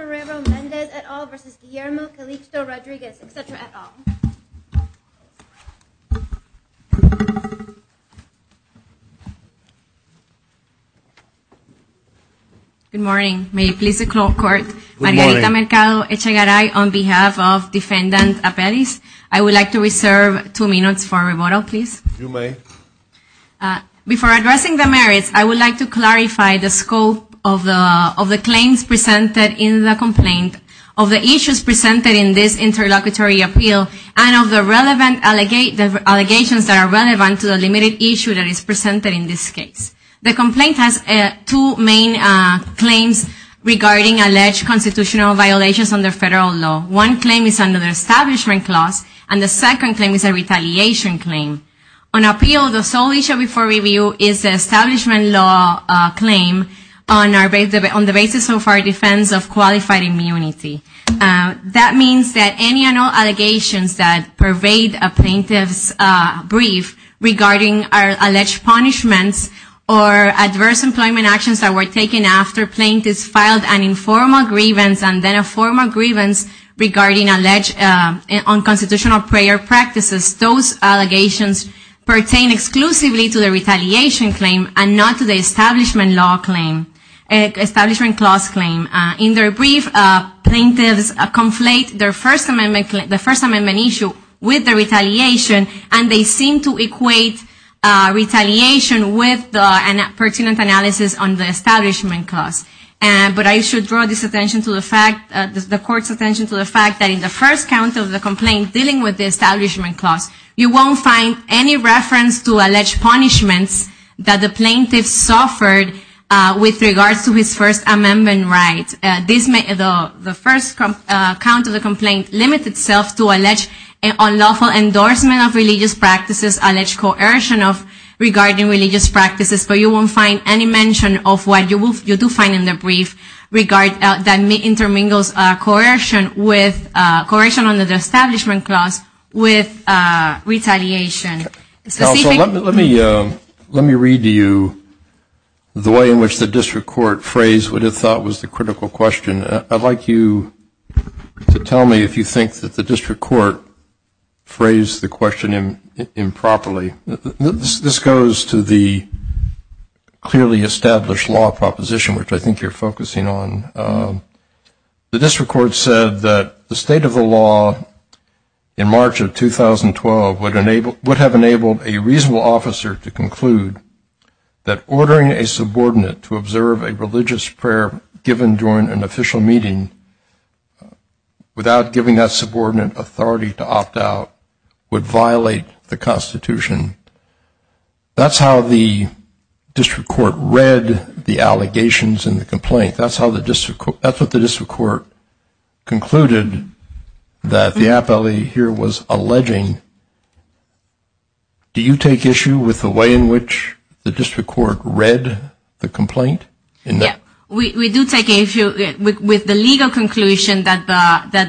Marrero-Mendez et al. v. Guillermo Calixto-Rodriguez, etc. et al. Good morning. May it please the court, Margarita Mercado Echegaray on behalf of Defendant Apellis. I would like to reserve two minutes for rebuttal, please. You may. Before addressing the merits, I would like to clarify the scope of the claims presented in the complaint, of the issues presented in this interlocutory appeal, and of the relevant allegations that are relevant to the limited issue that is presented in this case. The complaint has two main claims regarding alleged constitutional violations under federal law. One claim is under the Establishment Clause, and the second claim is a retaliation claim. On appeal, the sole issue before review is the Establishment Law claim on the basis of our defense of qualified immunity. That means that any and all allegations that pervade a plaintiff's brief regarding alleged punishments or adverse employment actions that were taken after plaintiffs filed an informal grievance and then a formal grievance regarding alleged unconstitutional prayer practices. Those allegations pertain exclusively to the retaliation claim and not to the Establishment Clause claim. In their brief, plaintiffs conflate the First Amendment issue with the retaliation, and they seem to equate retaliation with a pertinent analysis on the Establishment Clause. But I should draw the court's attention to the fact that in the first count of the complaint dealing with the Establishment Clause, you won't find any reference to alleged punishments that the plaintiff suffered with regards to his First Amendment rights. The first count of the complaint limits itself to alleged unlawful endorsement of religious practices, alleged coercion regarding religious practices. But you won't find any mention of what you do find in the brief that intermingles coercion under the Establishment Clause with retaliation. Counsel, let me read to you the way in which the district court phrased what it thought was the critical question. I'd like you to tell me if you think that the district court phrased the question improperly. This goes to the clearly established law proposition, which I think you're focusing on. The district court said that the state of the law in March of 2012 would have enabled a reasonable officer to conclude that ordering a subordinate to observe a religious prayer given during an official meeting without giving that subordinate authority to opt out would violate the Constitution. That's how the district court read the allegations in the complaint. That's what the district court concluded that the appellee here was alleging. Do you take issue with the way in which the district court read the complaint? Yes. We do take issue with the legal conclusion that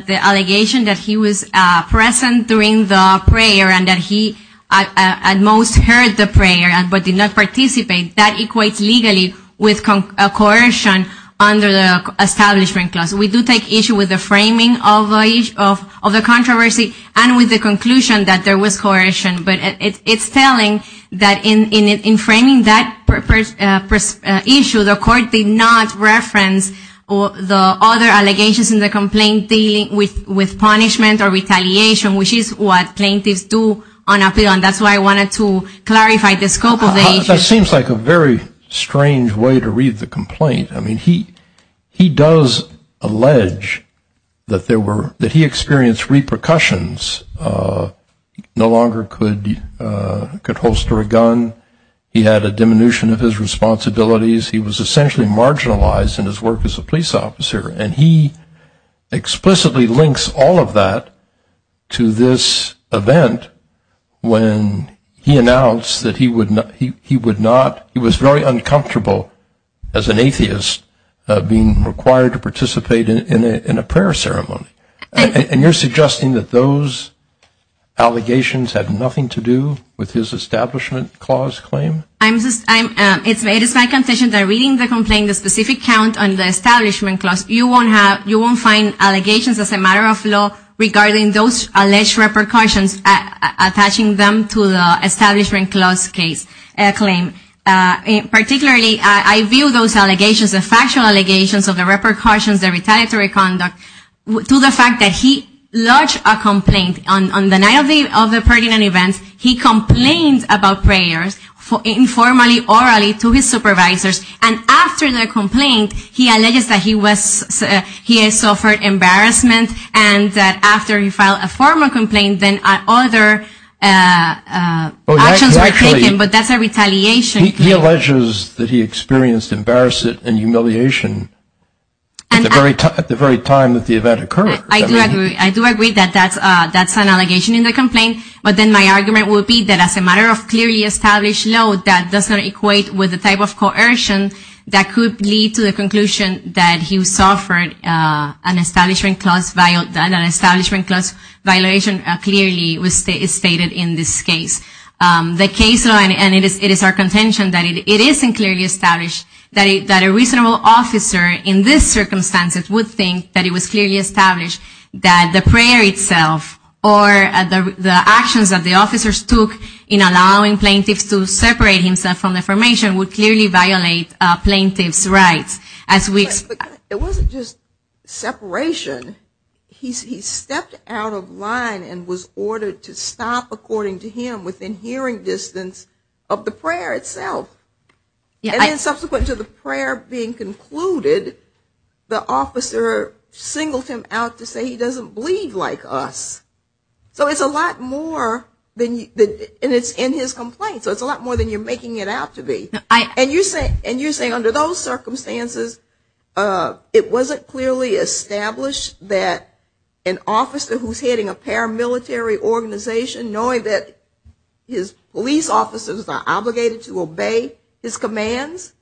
the allegation that he was present during the prayer and that he at most heard the prayer but did not participate, that equates legally with coercion under the Establishment Clause. We do take issue with the framing of the controversy and with the conclusion that there was coercion. But it's telling that in framing that issue, the court did not reference the other allegations in the complaint dealing with punishment or retaliation, which is what plaintiffs do on appeal. And that's why I wanted to clarify the scope of the issue. That seems like a very strange way to read the complaint. I mean, he does allege that he experienced repercussions, no longer could holster a gun. He had a diminution of his responsibilities. He was essentially marginalized in his work as a police officer. And he explicitly links all of that to this event when he announced that he would not, he was very uncomfortable as an atheist being required to participate in a prayer ceremony. And you're suggesting that those allegations had nothing to do with his Establishment Clause claim? It is my contention that reading the complaint, the specific count on the Establishment Clause, you won't find allegations as a matter of law regarding those alleged repercussions, attaching them to the Establishment Clause claim. Particularly, I view those allegations, the factual allegations of the repercussions, the retaliatory conduct, to the fact that he lodged a complaint on the night of the pertinent event. He complained about prayers informally, orally to his supervisors. And after the complaint, he alleges that he had suffered embarrassment and that after he filed a formal complaint, then other actions were taken. But that's a retaliation. He alleges that he experienced embarrassment and humiliation at the very time that the event occurred. I do agree. I do agree that that's an allegation in the complaint. But then my argument would be that as a matter of clearly established law that does not equate with the type of coercion that could lead to the conclusion that he suffered an Establishment Clause violation clearly is stated in this case. The case law, and it is our contention that it isn't clearly established, that a reasonable officer in this circumstance would think that it was clearly established that the prayer itself or the actions that the officers took in allowing plaintiffs to separate himself from the formation would clearly violate plaintiffs' rights. It wasn't just separation. He stepped out of line and was ordered to stop, according to him, within hearing distance of the prayer itself. And then subsequent to the prayer being concluded, the officer singled him out to say he doesn't believe like us. So it's a lot more, and it's in his complaint, so it's a lot more than you're making it out to be. And you're saying under those circumstances, it wasn't clearly established that an officer who's heading a paramilitary organization, knowing that his police officers are obligated to obey his commands,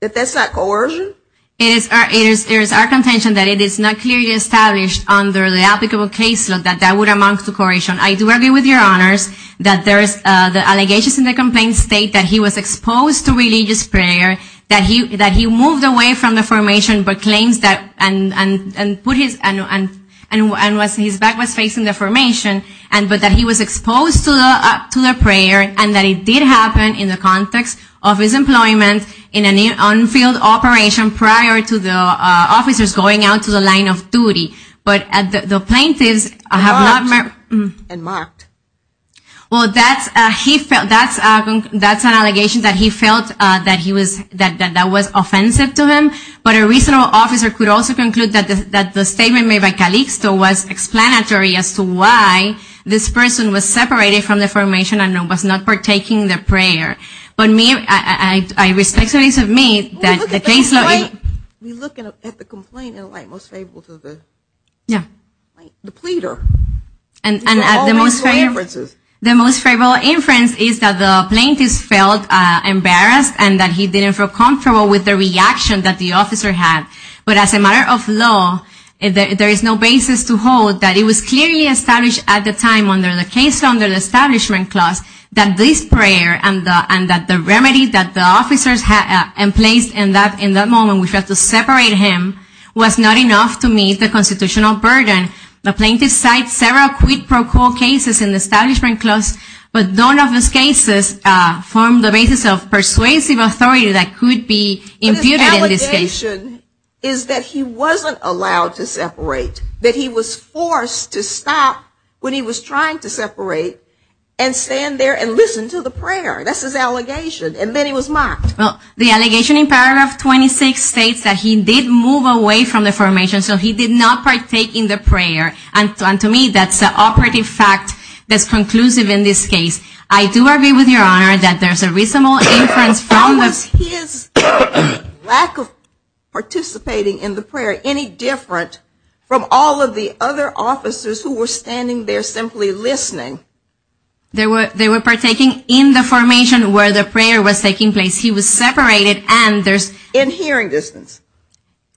that that's not coercion? It is our contention that it is not clearly established under the applicable case law that that would amount to coercion. I do argue with your honors that there is the allegations in the complaint state that he was exposed to religious prayer, that he moved away from the formation and his back was facing the formation, but that he was exposed to the prayer and that it did happen in the context of his employment in an on-field operation prior to the officers going out to the line of duty. But the plaintiffs have not marked. Well, that's an allegation that he felt that was offensive to him, but a reasonable officer could also conclude that the statement made by Calixto was explanatory as to why this person was separated from the formation and was not partaking in the prayer. But I respectfully submit that the case law is... We look at the complaint in a way most favorable to the pleader. The most favorable inference is that the plaintiff felt embarrassed and that he didn't feel comfortable with the reaction that the officer had. But as a matter of law, there is no basis to hold that it was clearly established at the time under the case law, under the Establishment Clause, that this prayer and that the remedy that the officers had in place in that moment which was to separate him was not enough to meet the constitutional burden. The plaintiffs cite several quid pro quo cases in the Establishment Clause, but none of those cases form the basis of persuasive authority that could be imputed in this case. But his allegation is that he wasn't allowed to separate, that he was forced to stop when he was trying to separate and stand there and listen to the prayer. That's his allegation. And then he was mocked. Well, the allegation in paragraph 26 states that he did move away from the formation, so he did not partake in the prayer. And to me, that's an operative fact that's conclusive in this case. I do agree with Your Honor that there's a reasonable inference from this. How was his lack of participating in the prayer any different from all of the other officers who were standing there simply listening? They were partaking in the formation where the prayer was taking place. He was separated and there's... In hearing distance.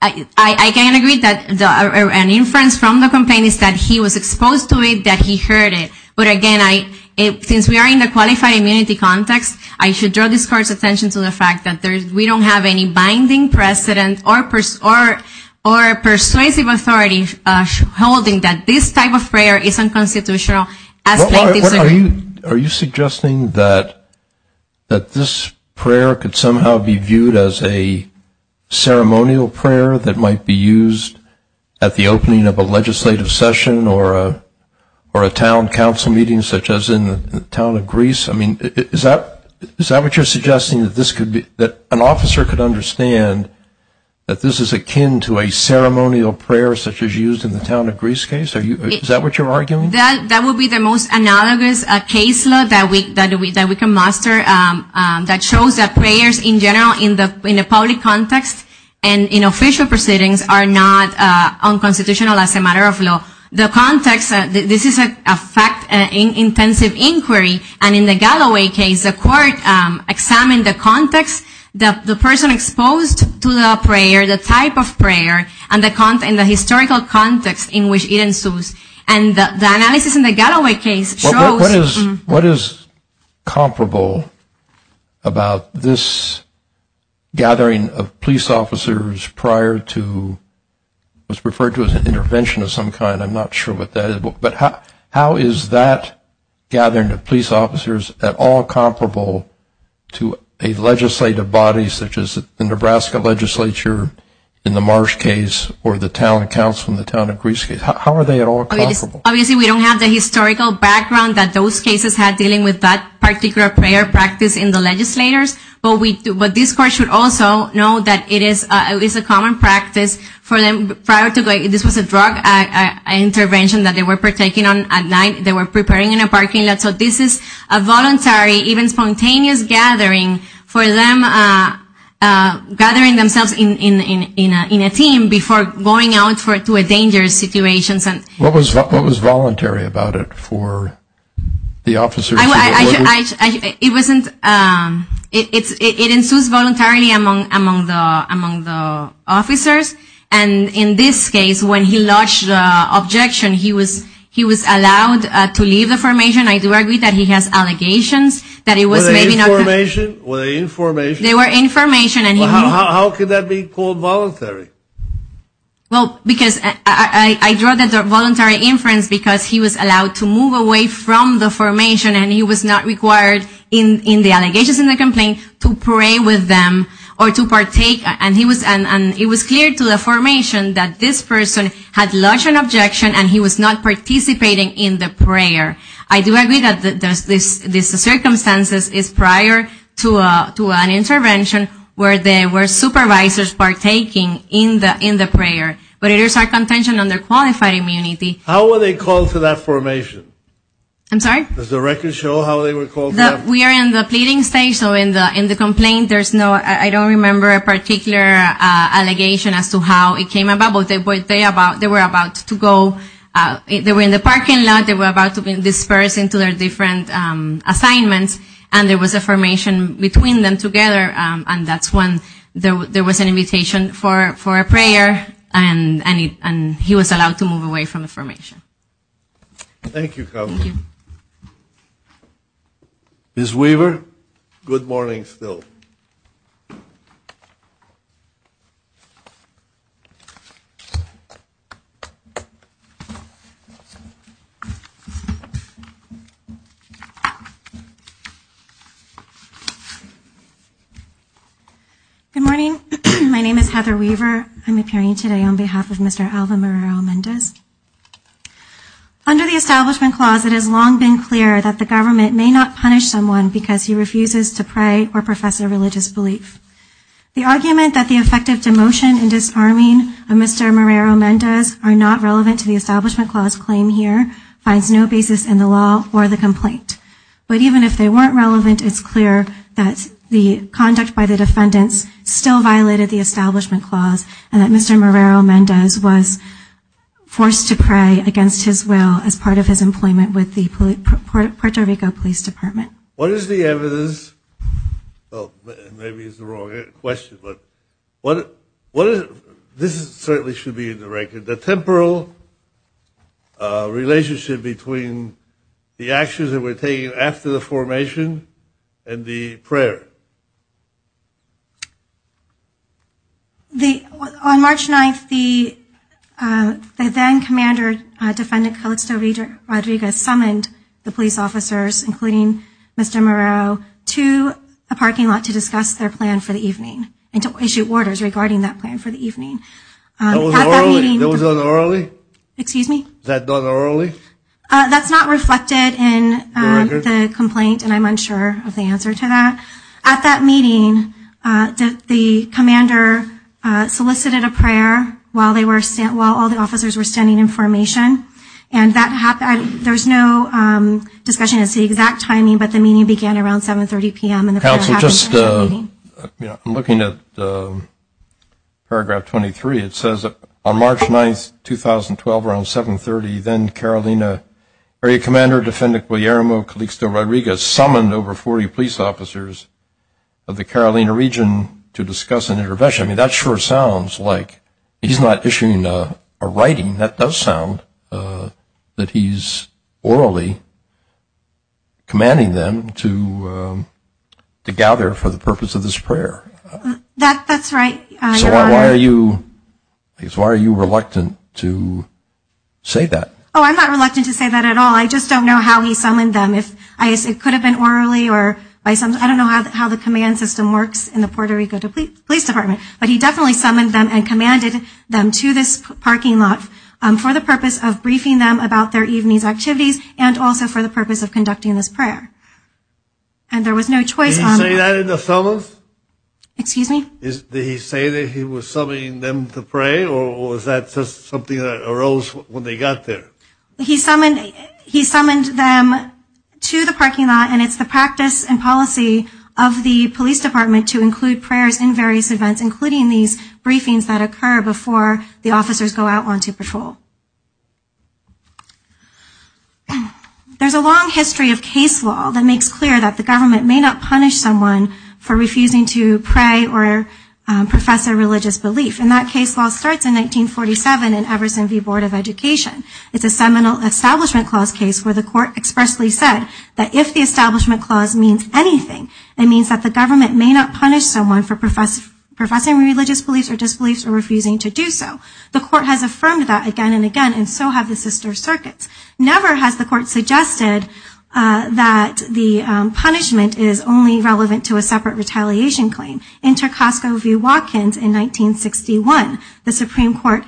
I can agree that an inference from the complaint is that he was exposed to it, that he heard it. But again, since we are in the qualified immunity context, I should draw this Court's attention to the fact that we don't have any binding precedent or persuasive authority holding that this type of prayer is unconstitutional. Are you suggesting that this prayer could somehow be viewed as a ceremonial prayer that might be used at the opening of a legislative session or a town council meeting such as in the town of Greece? I mean, is that what you're suggesting, that an officer could understand that this is akin to a ceremonial prayer such as used in the town of Greece case? Is that what you're arguing? That would be the most analogous case law that we can muster that shows that prayers in general in the public context and in official proceedings are not unconstitutional as a matter of law. The context, this is a fact-intensive inquiry, and in the Galloway case the Court examined the context, the person exposed to the prayer, the type of prayer, and the historical context in which it ensues. And the analysis in the Galloway case shows... What is comparable about this gathering of police officers prior to what's referred to as an intervention of some kind? I'm not sure what that is, but how is that gathering of police officers at all comparable to a legislative body such as the Nebraska legislature in the Marsh case or the town council in the town of Greece case? How are they at all comparable? Obviously we don't have the historical background that those cases had dealing with that particular prayer practice in the legislators, but this Court should also know that it is a common practice for them prior to... This was a drug intervention that they were partaking on at night. They were preparing in a parking lot. So this is a voluntary, even spontaneous gathering for them, gathering themselves in a team before going out to a dangerous situation. What was voluntary about it for the officers? It ensues voluntarily among the officers. And in this case, when he lodged the objection, he was allowed to leave the formation. I do agree that he has allegations that it was maybe not... Were they in formation? They were in formation. How could that be called voluntary? Well, because I draw that as a voluntary inference because he was allowed to move away from the formation and he was not required in the allegations in the complaint to pray with them or to partake. And it was clear to the formation that this person had lodged an objection and he was not participating in the prayer. I do agree that this circumstance is prior to an intervention where there were supervisors partaking in the prayer. But it is our contention on their qualified immunity. How were they called to that formation? I'm sorry? Does the record show how they were called? We are in the pleading stage, so in the complaint there's no... I don't remember a particular allegation as to how it came about, but they were about to go... They were in the parking lot. They were about to be dispersed into their different assignments and there was a formation between them together and that's when there was an invitation for a prayer and he was allowed to move away from the formation. Thank you, Carla. Thank you. Ms. Weaver, good morning still. Good morning. My name is Heather Weaver. I'm appearing today on behalf of Mr. Alvin Morero-Mendez. Under the Establishment Clause, it has long been clear that the government may not punish someone because he refuses to pray or profess a religious belief. The argument that the effective demotion and disarming of Mr. Morero-Mendez are not relevant to the Establishment Clause claim here finds no basis in the law or the complaint. But even if they weren't relevant, it's clear that the conduct by the defendants still violated the Establishment Clause and that Mr. Morero-Mendez was forced to pray against his will as part of his employment with the Puerto Rico Police Department. What is the evidence... Maybe it's the wrong question, but... This certainly should be in the record. The temporal relationship between the actions that were taken after the formation and the prayer. On March 9th, the then-commander, Defendant Calixto Rodriguez summoned the police officers, including Mr. Morero, to a parking lot to discuss their plan for the evening and to issue orders regarding that plan for the evening. Was that done orally? Excuse me? Was that done orally? That's not reflected in the complaint, and I'm unsure of the answer to that. At that meeting, the commander solicited a prayer while all the officers were standing in formation, and there's no discussion as to the exact timing, but the meeting began around 7.30 p.m. Counsel, just looking at Paragraph 23, it says that on March 9th, 2012, around 7.30, then Carolina Area Commander Defendant Guillermo Calixto Rodriguez summoned over 40 police officers of the Carolina region to discuss an intervention. I mean, that sure sounds like he's not issuing a writing. That does sound that he's orally commanding them to gather for the purpose of this prayer. That's right. So why are you reluctant to say that? Oh, I'm not reluctant to say that at all. I just don't know how he summoned them. It could have been orally or by some – I don't know how the command system works in the Puerto Rico Police Department, but he definitely summoned them and commanded them to this parking lot for the purpose of briefing them about their evening's activities and also for the purpose of conducting this prayer. And there was no choice on that. Did he say that in the summons? Excuse me? Did he say that he was summoning them to pray, or was that just something that arose when they got there? He summoned them to the parking lot, and it's the practice and policy of the police department to include prayers in various events, including these briefings that occur before the officers go out onto patrol. There's a long history of case law that makes clear that the government may not punish someone for refusing to pray or profess a religious belief, and that case law starts in 1947 in Everson v. Board of Education. It's a seminal establishment clause case where the court expressly said that if the establishment clause means anything, it means that the government may not punish someone for professing religious beliefs or disbeliefs or refusing to do so. The court has affirmed that again and again, and so have the sister circuits. Never has the court suggested that the punishment is only relevant to a separate retaliation claim. In Tarkovsky v. Watkins in 1961, the Supreme Court,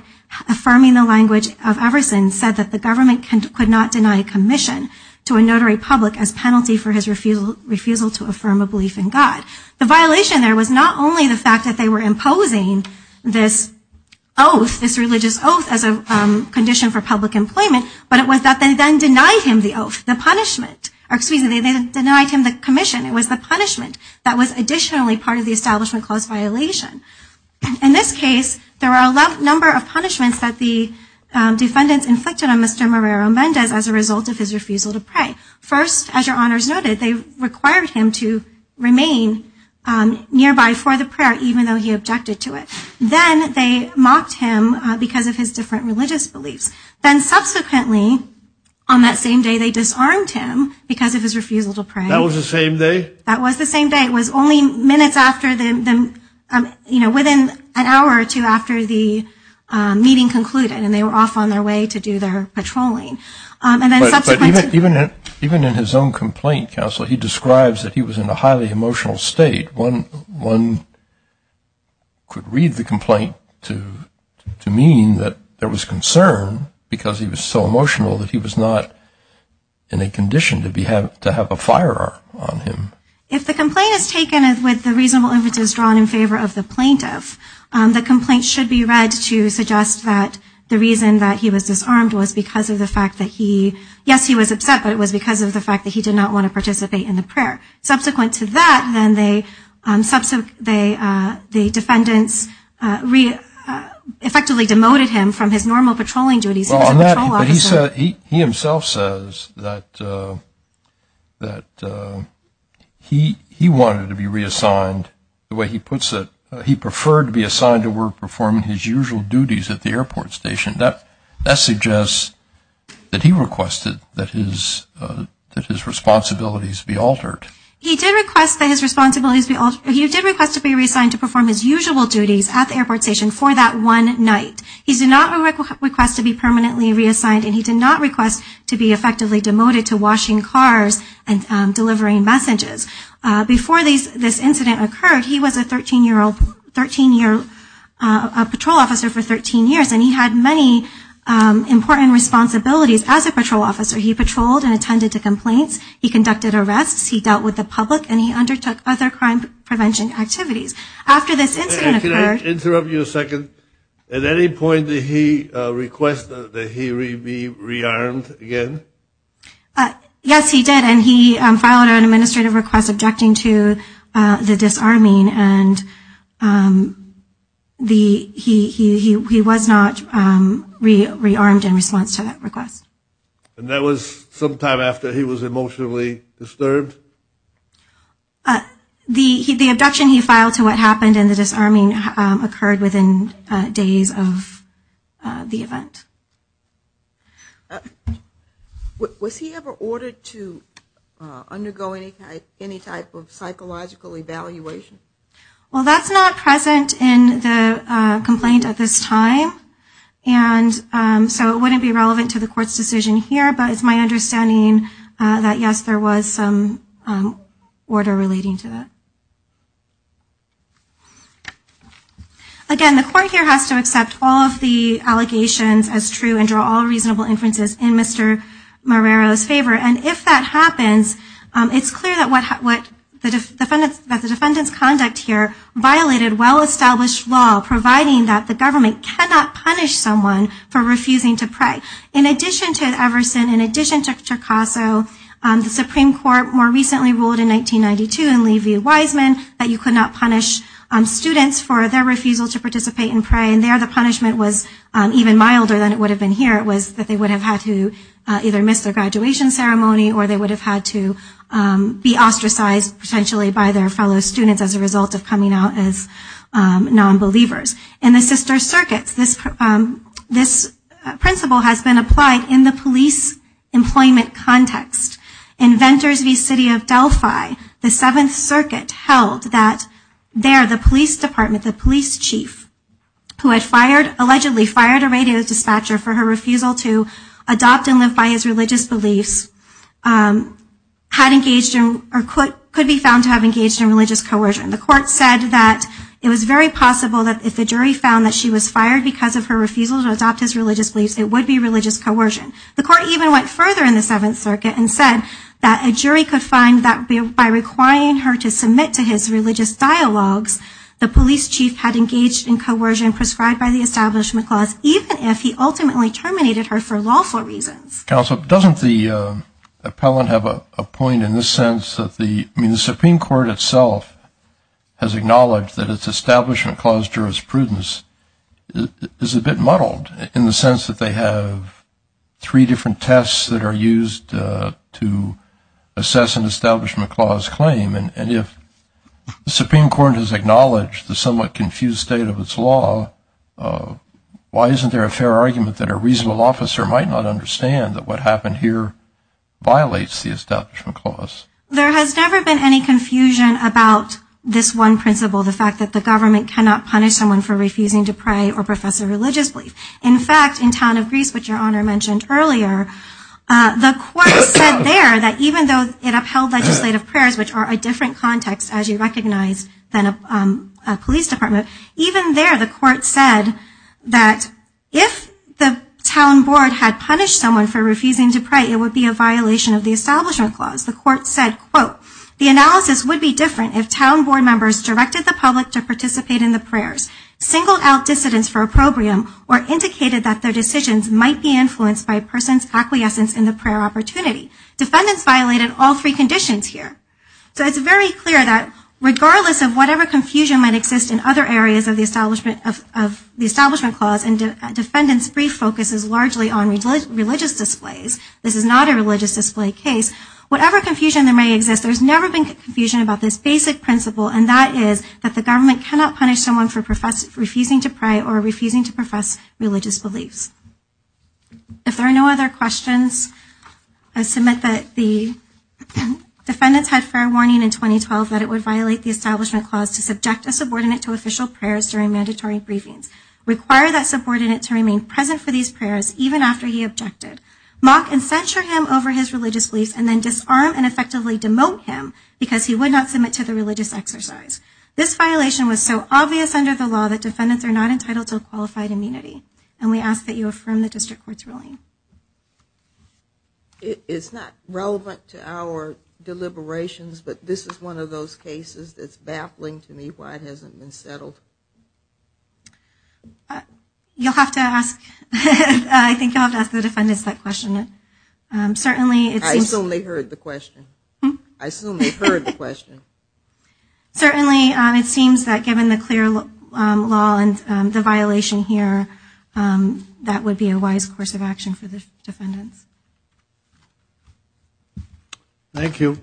affirming the language of Everson, said that the government could not deny commission to a notary public as penalty for his refusal to affirm a belief in God. The violation there was not only the fact that they were imposing this oath, this religious oath as a condition for public employment, but it was that they then denied him the oath, the punishment. Excuse me, they denied him the commission. It was the punishment that was additionally part of the establishment clause violation. In this case, there are a number of punishments that the defendants inflicted on Mr. Marrero Mendez as a result of his refusal to pray. First, as your honors noted, they required him to remain nearby for the prayer, even though he objected to it. Then they mocked him because of his different religious beliefs. Then subsequently, on that same day, they disarmed him because of his refusal to pray. That was the same day? That was the same day. It was only minutes after the, you know, within an hour or two after the meeting concluded, and they were off on their way to do their patrolling. But even in his own complaint, Counselor, he describes that he was in a highly emotional state. One could read the complaint to mean that there was concern because he was so emotional that he was not in a condition to have a firearm on him. If the complaint is taken with the reasonable evidence drawn in favor of the plaintiff, the complaint should be read to suggest that the reason that he was disarmed was because of the fact that he, yes, he was upset, but it was because of the fact that he did not want to participate in the prayer. Subsequent to that, then the defendants effectively demoted him from his normal patrolling duties. He was a patrol officer. The complaint says that he wanted to be reassigned the way he puts it. He preferred to be assigned to work performing his usual duties at the airport station. That suggests that he requested that his responsibilities be altered. He did request that his responsibilities be altered. He did request to be reassigned to perform his usual duties at the airport station for that one night. He did not request to be permanently reassigned, and he did not request to be effectively demoted to washing cars and delivering messages. Before this incident occurred, he was a patrol officer for 13 years, and he had many important responsibilities as a patrol officer. He patrolled and attended to complaints. He conducted arrests. He dealt with the public, and he undertook other crime prevention activities. Can I interrupt you a second? At any point did he request that he be rearmed again? Yes, he did, and he filed an administrative request objecting to the disarming, and he was not rearmed in response to that request. And that was sometime after he was emotionally disturbed? The abduction he filed to what happened and the disarming occurred within days of the event. Was he ever ordered to undergo any type of psychological evaluation? Well, that's not present in the complaint at this time, and so it wouldn't be relevant to the court's decision here, but it's my understanding that, yes, there was some order relating to that. Again, the court here has to accept all of the allegations as true and draw all reasonable inferences in Mr. Marrero's favor, and if that happens, it's clear that the defendant's conduct here violated well-established law, providing that the government cannot punish someone for refusing to pray. In addition to Everson, in addition to Tricasso, the Supreme Court more recently ruled in 1992 in Lee v. Wiseman that you could not punish students for their refusal to participate in prayer, and there the punishment was even milder than it would have been here. It was that they would have had to either miss their graduation ceremony or they would have had to be ostracized potentially by their fellow students as a result of coming out as nonbelievers. In the sister circuits, this principle has been applied in the police employment context. In Venters v. City of Delphi, the Seventh Circuit held that there, the police department, the police chief, who had allegedly fired a radio dispatcher for her refusal to adopt and live by his religious beliefs, could be found to have engaged in religious coercion. The court said that it was very possible that if the jury found that she was fired because of her refusal to adopt his religious beliefs, it would be religious coercion. The court even went further in the Seventh Circuit and said that a jury could find that by requiring her to submit to his religious dialogues, the police chief had engaged in coercion prescribed by the establishment clause, even if he ultimately terminated her for lawful reasons. Counsel, doesn't the appellant have a point in the sense that the, I mean, the Supreme Court itself has acknowledged that its establishment clause jurisprudence is a bit muddled in the sense that they have three different tests that are used to assess an establishment clause claim. And if the Supreme Court has acknowledged the somewhat confused state of its law, why isn't there a fair argument that a reasonable officer might not understand that what happened here violates the establishment clause? There has never been any confusion about this one principle, the fact that the government cannot punish someone for refusing to pray or profess a religious belief. In fact, in town of Greece, which Your Honor mentioned earlier, the court said there that even though it upheld legislative prayers, which are a different context, as you recognize, than a police department, even there the court said that if the town board had punished someone for refusing to pray, it would be a violation of the establishment clause. The court said, quote, the analysis would be different if town board members directed the public to participate in the prayers, singled out dissidents for opprobrium, or indicated that their decisions might be influenced by a person's acquiescence in the prayer opportunity. Defendants violated all three conditions here. So it's very clear that regardless of whatever confusion might exist in other areas of the establishment clause, and defendants' brief focus is largely on religious displays, this is not a religious display case, whatever confusion there may exist, there's never been confusion about this basic principle, and that is that the government cannot punish someone for refusing to pray or refusing to profess religious beliefs. If there are no other questions, I submit that the defendants had fair warning in 2012 that it would violate the establishment clause to subject a subordinate to official prayers during mandatory briefings, require that subordinate to remain present for these prayers even after he objected, mock and censure him over his religious beliefs, and then disarm and effectively demote him because he would not submit to the religious exercise. This violation was so obvious under the law that defendants are not entitled to a qualified immunity, and we ask that you affirm the district court's ruling. It's not relevant to our deliberations, but this is one of those cases that's baffling to me why it hasn't been settled. You'll have to ask, I think you'll have to ask the defendants that question. I assume they heard the question. I assume they heard the question. Certainly it seems that given the clear law and the violation here, that would be a wise course of action for the defendants. Thank you.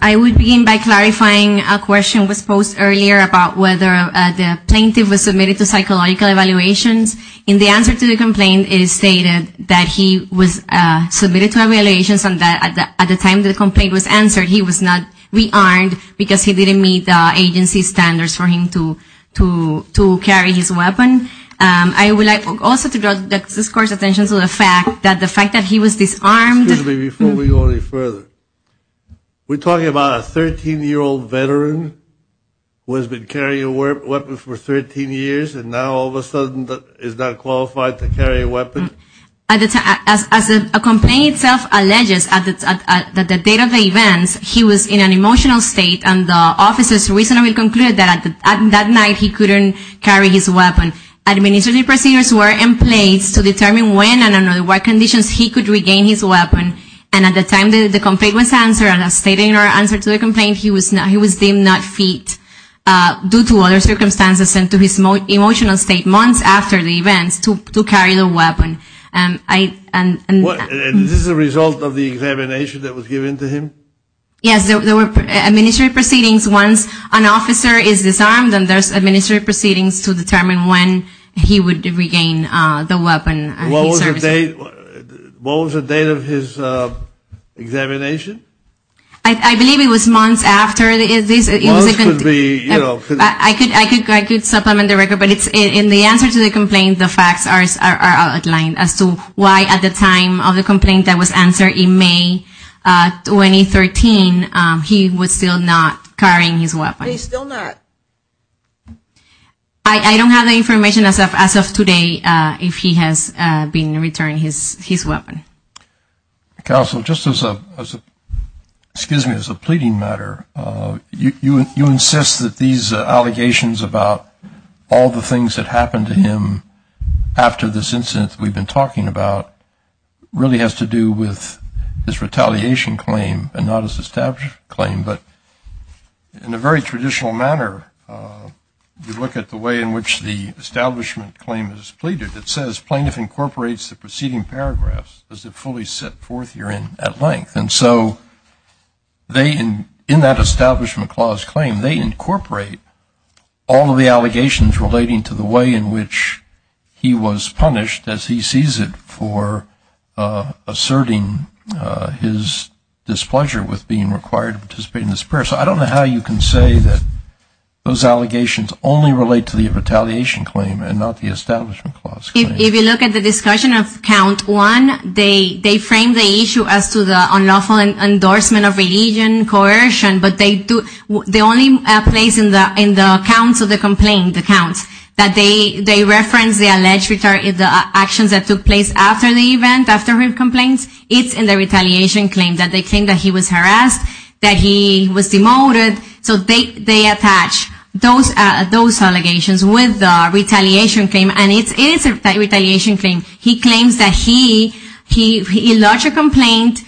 I would begin by clarifying a question that was posed earlier about whether the plaintiff was submitted to psychological evaluations. In the answer to the complaint it is stated that he was submitted to evaluations and that at the time the complaint was answered he was not rearmed because he didn't meet the agency's standards for him to carry his weapon. I would like also to draw the district court's attention to the fact that the fact that he was disarmed Excuse me before we go any further. We're talking about a 13-year-old veteran who has been carrying a weapon for 13 years and now all of a sudden is not qualified to carry a weapon? As the complaint itself alleges at the date of the events he was in an emotional state and the officers reasonably concluded that at that night he couldn't carry his weapon. Administrative procedures were in place to determine when and under what conditions he could regain his weapon and at the time the complaint was answered he was deemed not fit due to other circumstances and to his emotional state months after the events to carry the weapon. Is this a result of the examination that was given to him? Yes, there were administrative proceedings once an officer is disarmed and there's administrative proceedings to determine when he would regain the weapon. What was the date of his examination? I believe it was months after. I could supplement the record but in the answer to the complaint the facts are outlined as to why at the time of the complaint that was answered in May 2013 he was still not carrying his weapon. He's still not? I don't have the information as of today if he has been returned his weapon. Counsel, just as a pleading matter, you insist that these allegations about all the things that happened to him after this incident we've been talking about really has to do with his retaliation claim and not his established claim but in a very traditional manner you look at the way in which the establishment claim is pleaded. It says plaintiff incorporates the preceding paragraphs as they're fully set forth here at length and so in that establishment clause claim they incorporate all of the allegations relating to the way in which he was punished as he sees it for asserting his displeasure with being required to participate in this pursuit. I don't know how you can say that those allegations only relate to the retaliation claim and not the establishment clause claim. If you look at the discussion of count one, they frame the issue as to the unlawful endorsement of religion, coercion, but the only place in the counts of the complaint, the counts, that they reference the alleged actions that took place after the event, after his complaints, it's in the retaliation claim that they claim that he was harassed, that he was demoted, so they attach those allegations with the retaliation claim and it is a retaliation claim. He claims that he lodged a complaint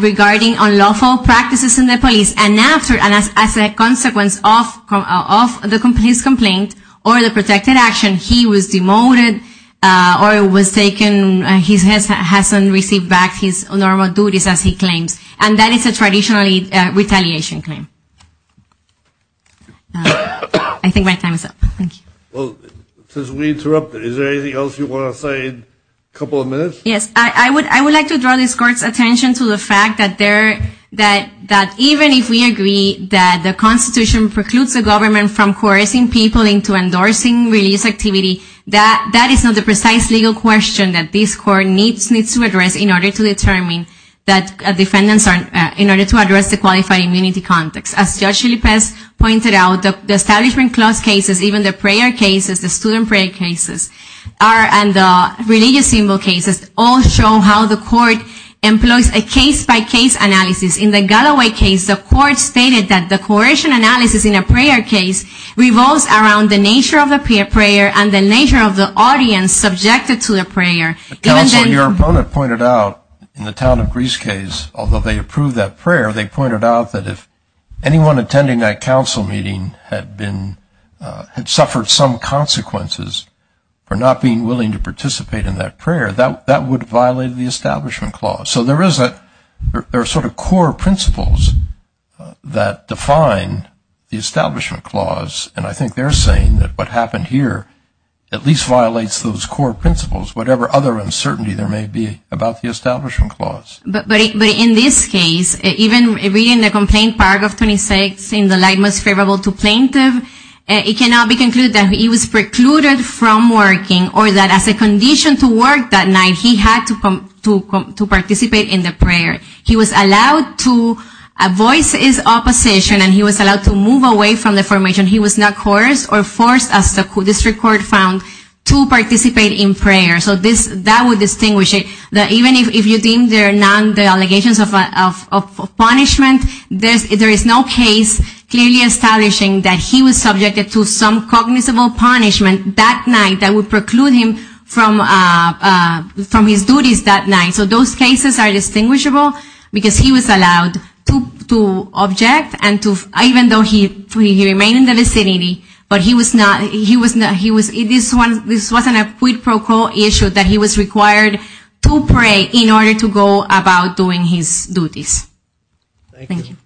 regarding unlawful practices in the police and as a consequence of the police complaint or the protected action he was demoted or was taken, he hasn't received back his normal duties as he claims and that is a traditional retaliation claim. I think my time is up. Thank you. Well, since we interrupted, is there anything else you want to say in a couple of minutes? Yes, I would like to draw this Court's attention to the fact that even if we agree that the Constitution precludes the government from coercing people into endorsing religious activity, that is not the precise legal question that this Court needs to address in order to determine that defendants are, in order to address the qualified immunity context. As Judge Chalipas pointed out, the establishment clause cases, even the prayer cases, the student prayer cases, and the religious symbol cases all show how the Court employs a case-by-case analysis. In the Galloway case, the Court stated that the coercion analysis in a prayer case revolves around the nature of the prayer and the nature of the audience subjected to the prayer. Counsel, your opponent pointed out in the town of Greece case, although they approved that prayer, they pointed out that if anyone attending that prayer had to face the consequences for not being willing to participate in that prayer, that would violate the establishment clause. So there are sort of core principles that define the establishment clause, and I think they're saying that what happened here at least violates those core principles, whatever other uncertainty there may be about the establishment clause. But in this case, even reading the complaint, Paragraph 26, in the light most favorable to plaintiff, it cannot be concluded that he was precluded from working or that as a condition to work that night, he had to participate in the prayer. He was allowed to voice his opposition and he was allowed to move away from the formation. He was not coerced or forced, as the district court found, to participate in prayer. So that would distinguish it, that even if you deem there are non-delegations of punishment, there is no case clearly establishing that he was subjected to some cognizant punishment that night that would preclude him from his duties that night. So those cases are distinguishable because he was allowed to object, even though he remained in the vicinity, but this wasn't a quid pro quo issue that he was required to pray in order to go about doing his duties. Thank you.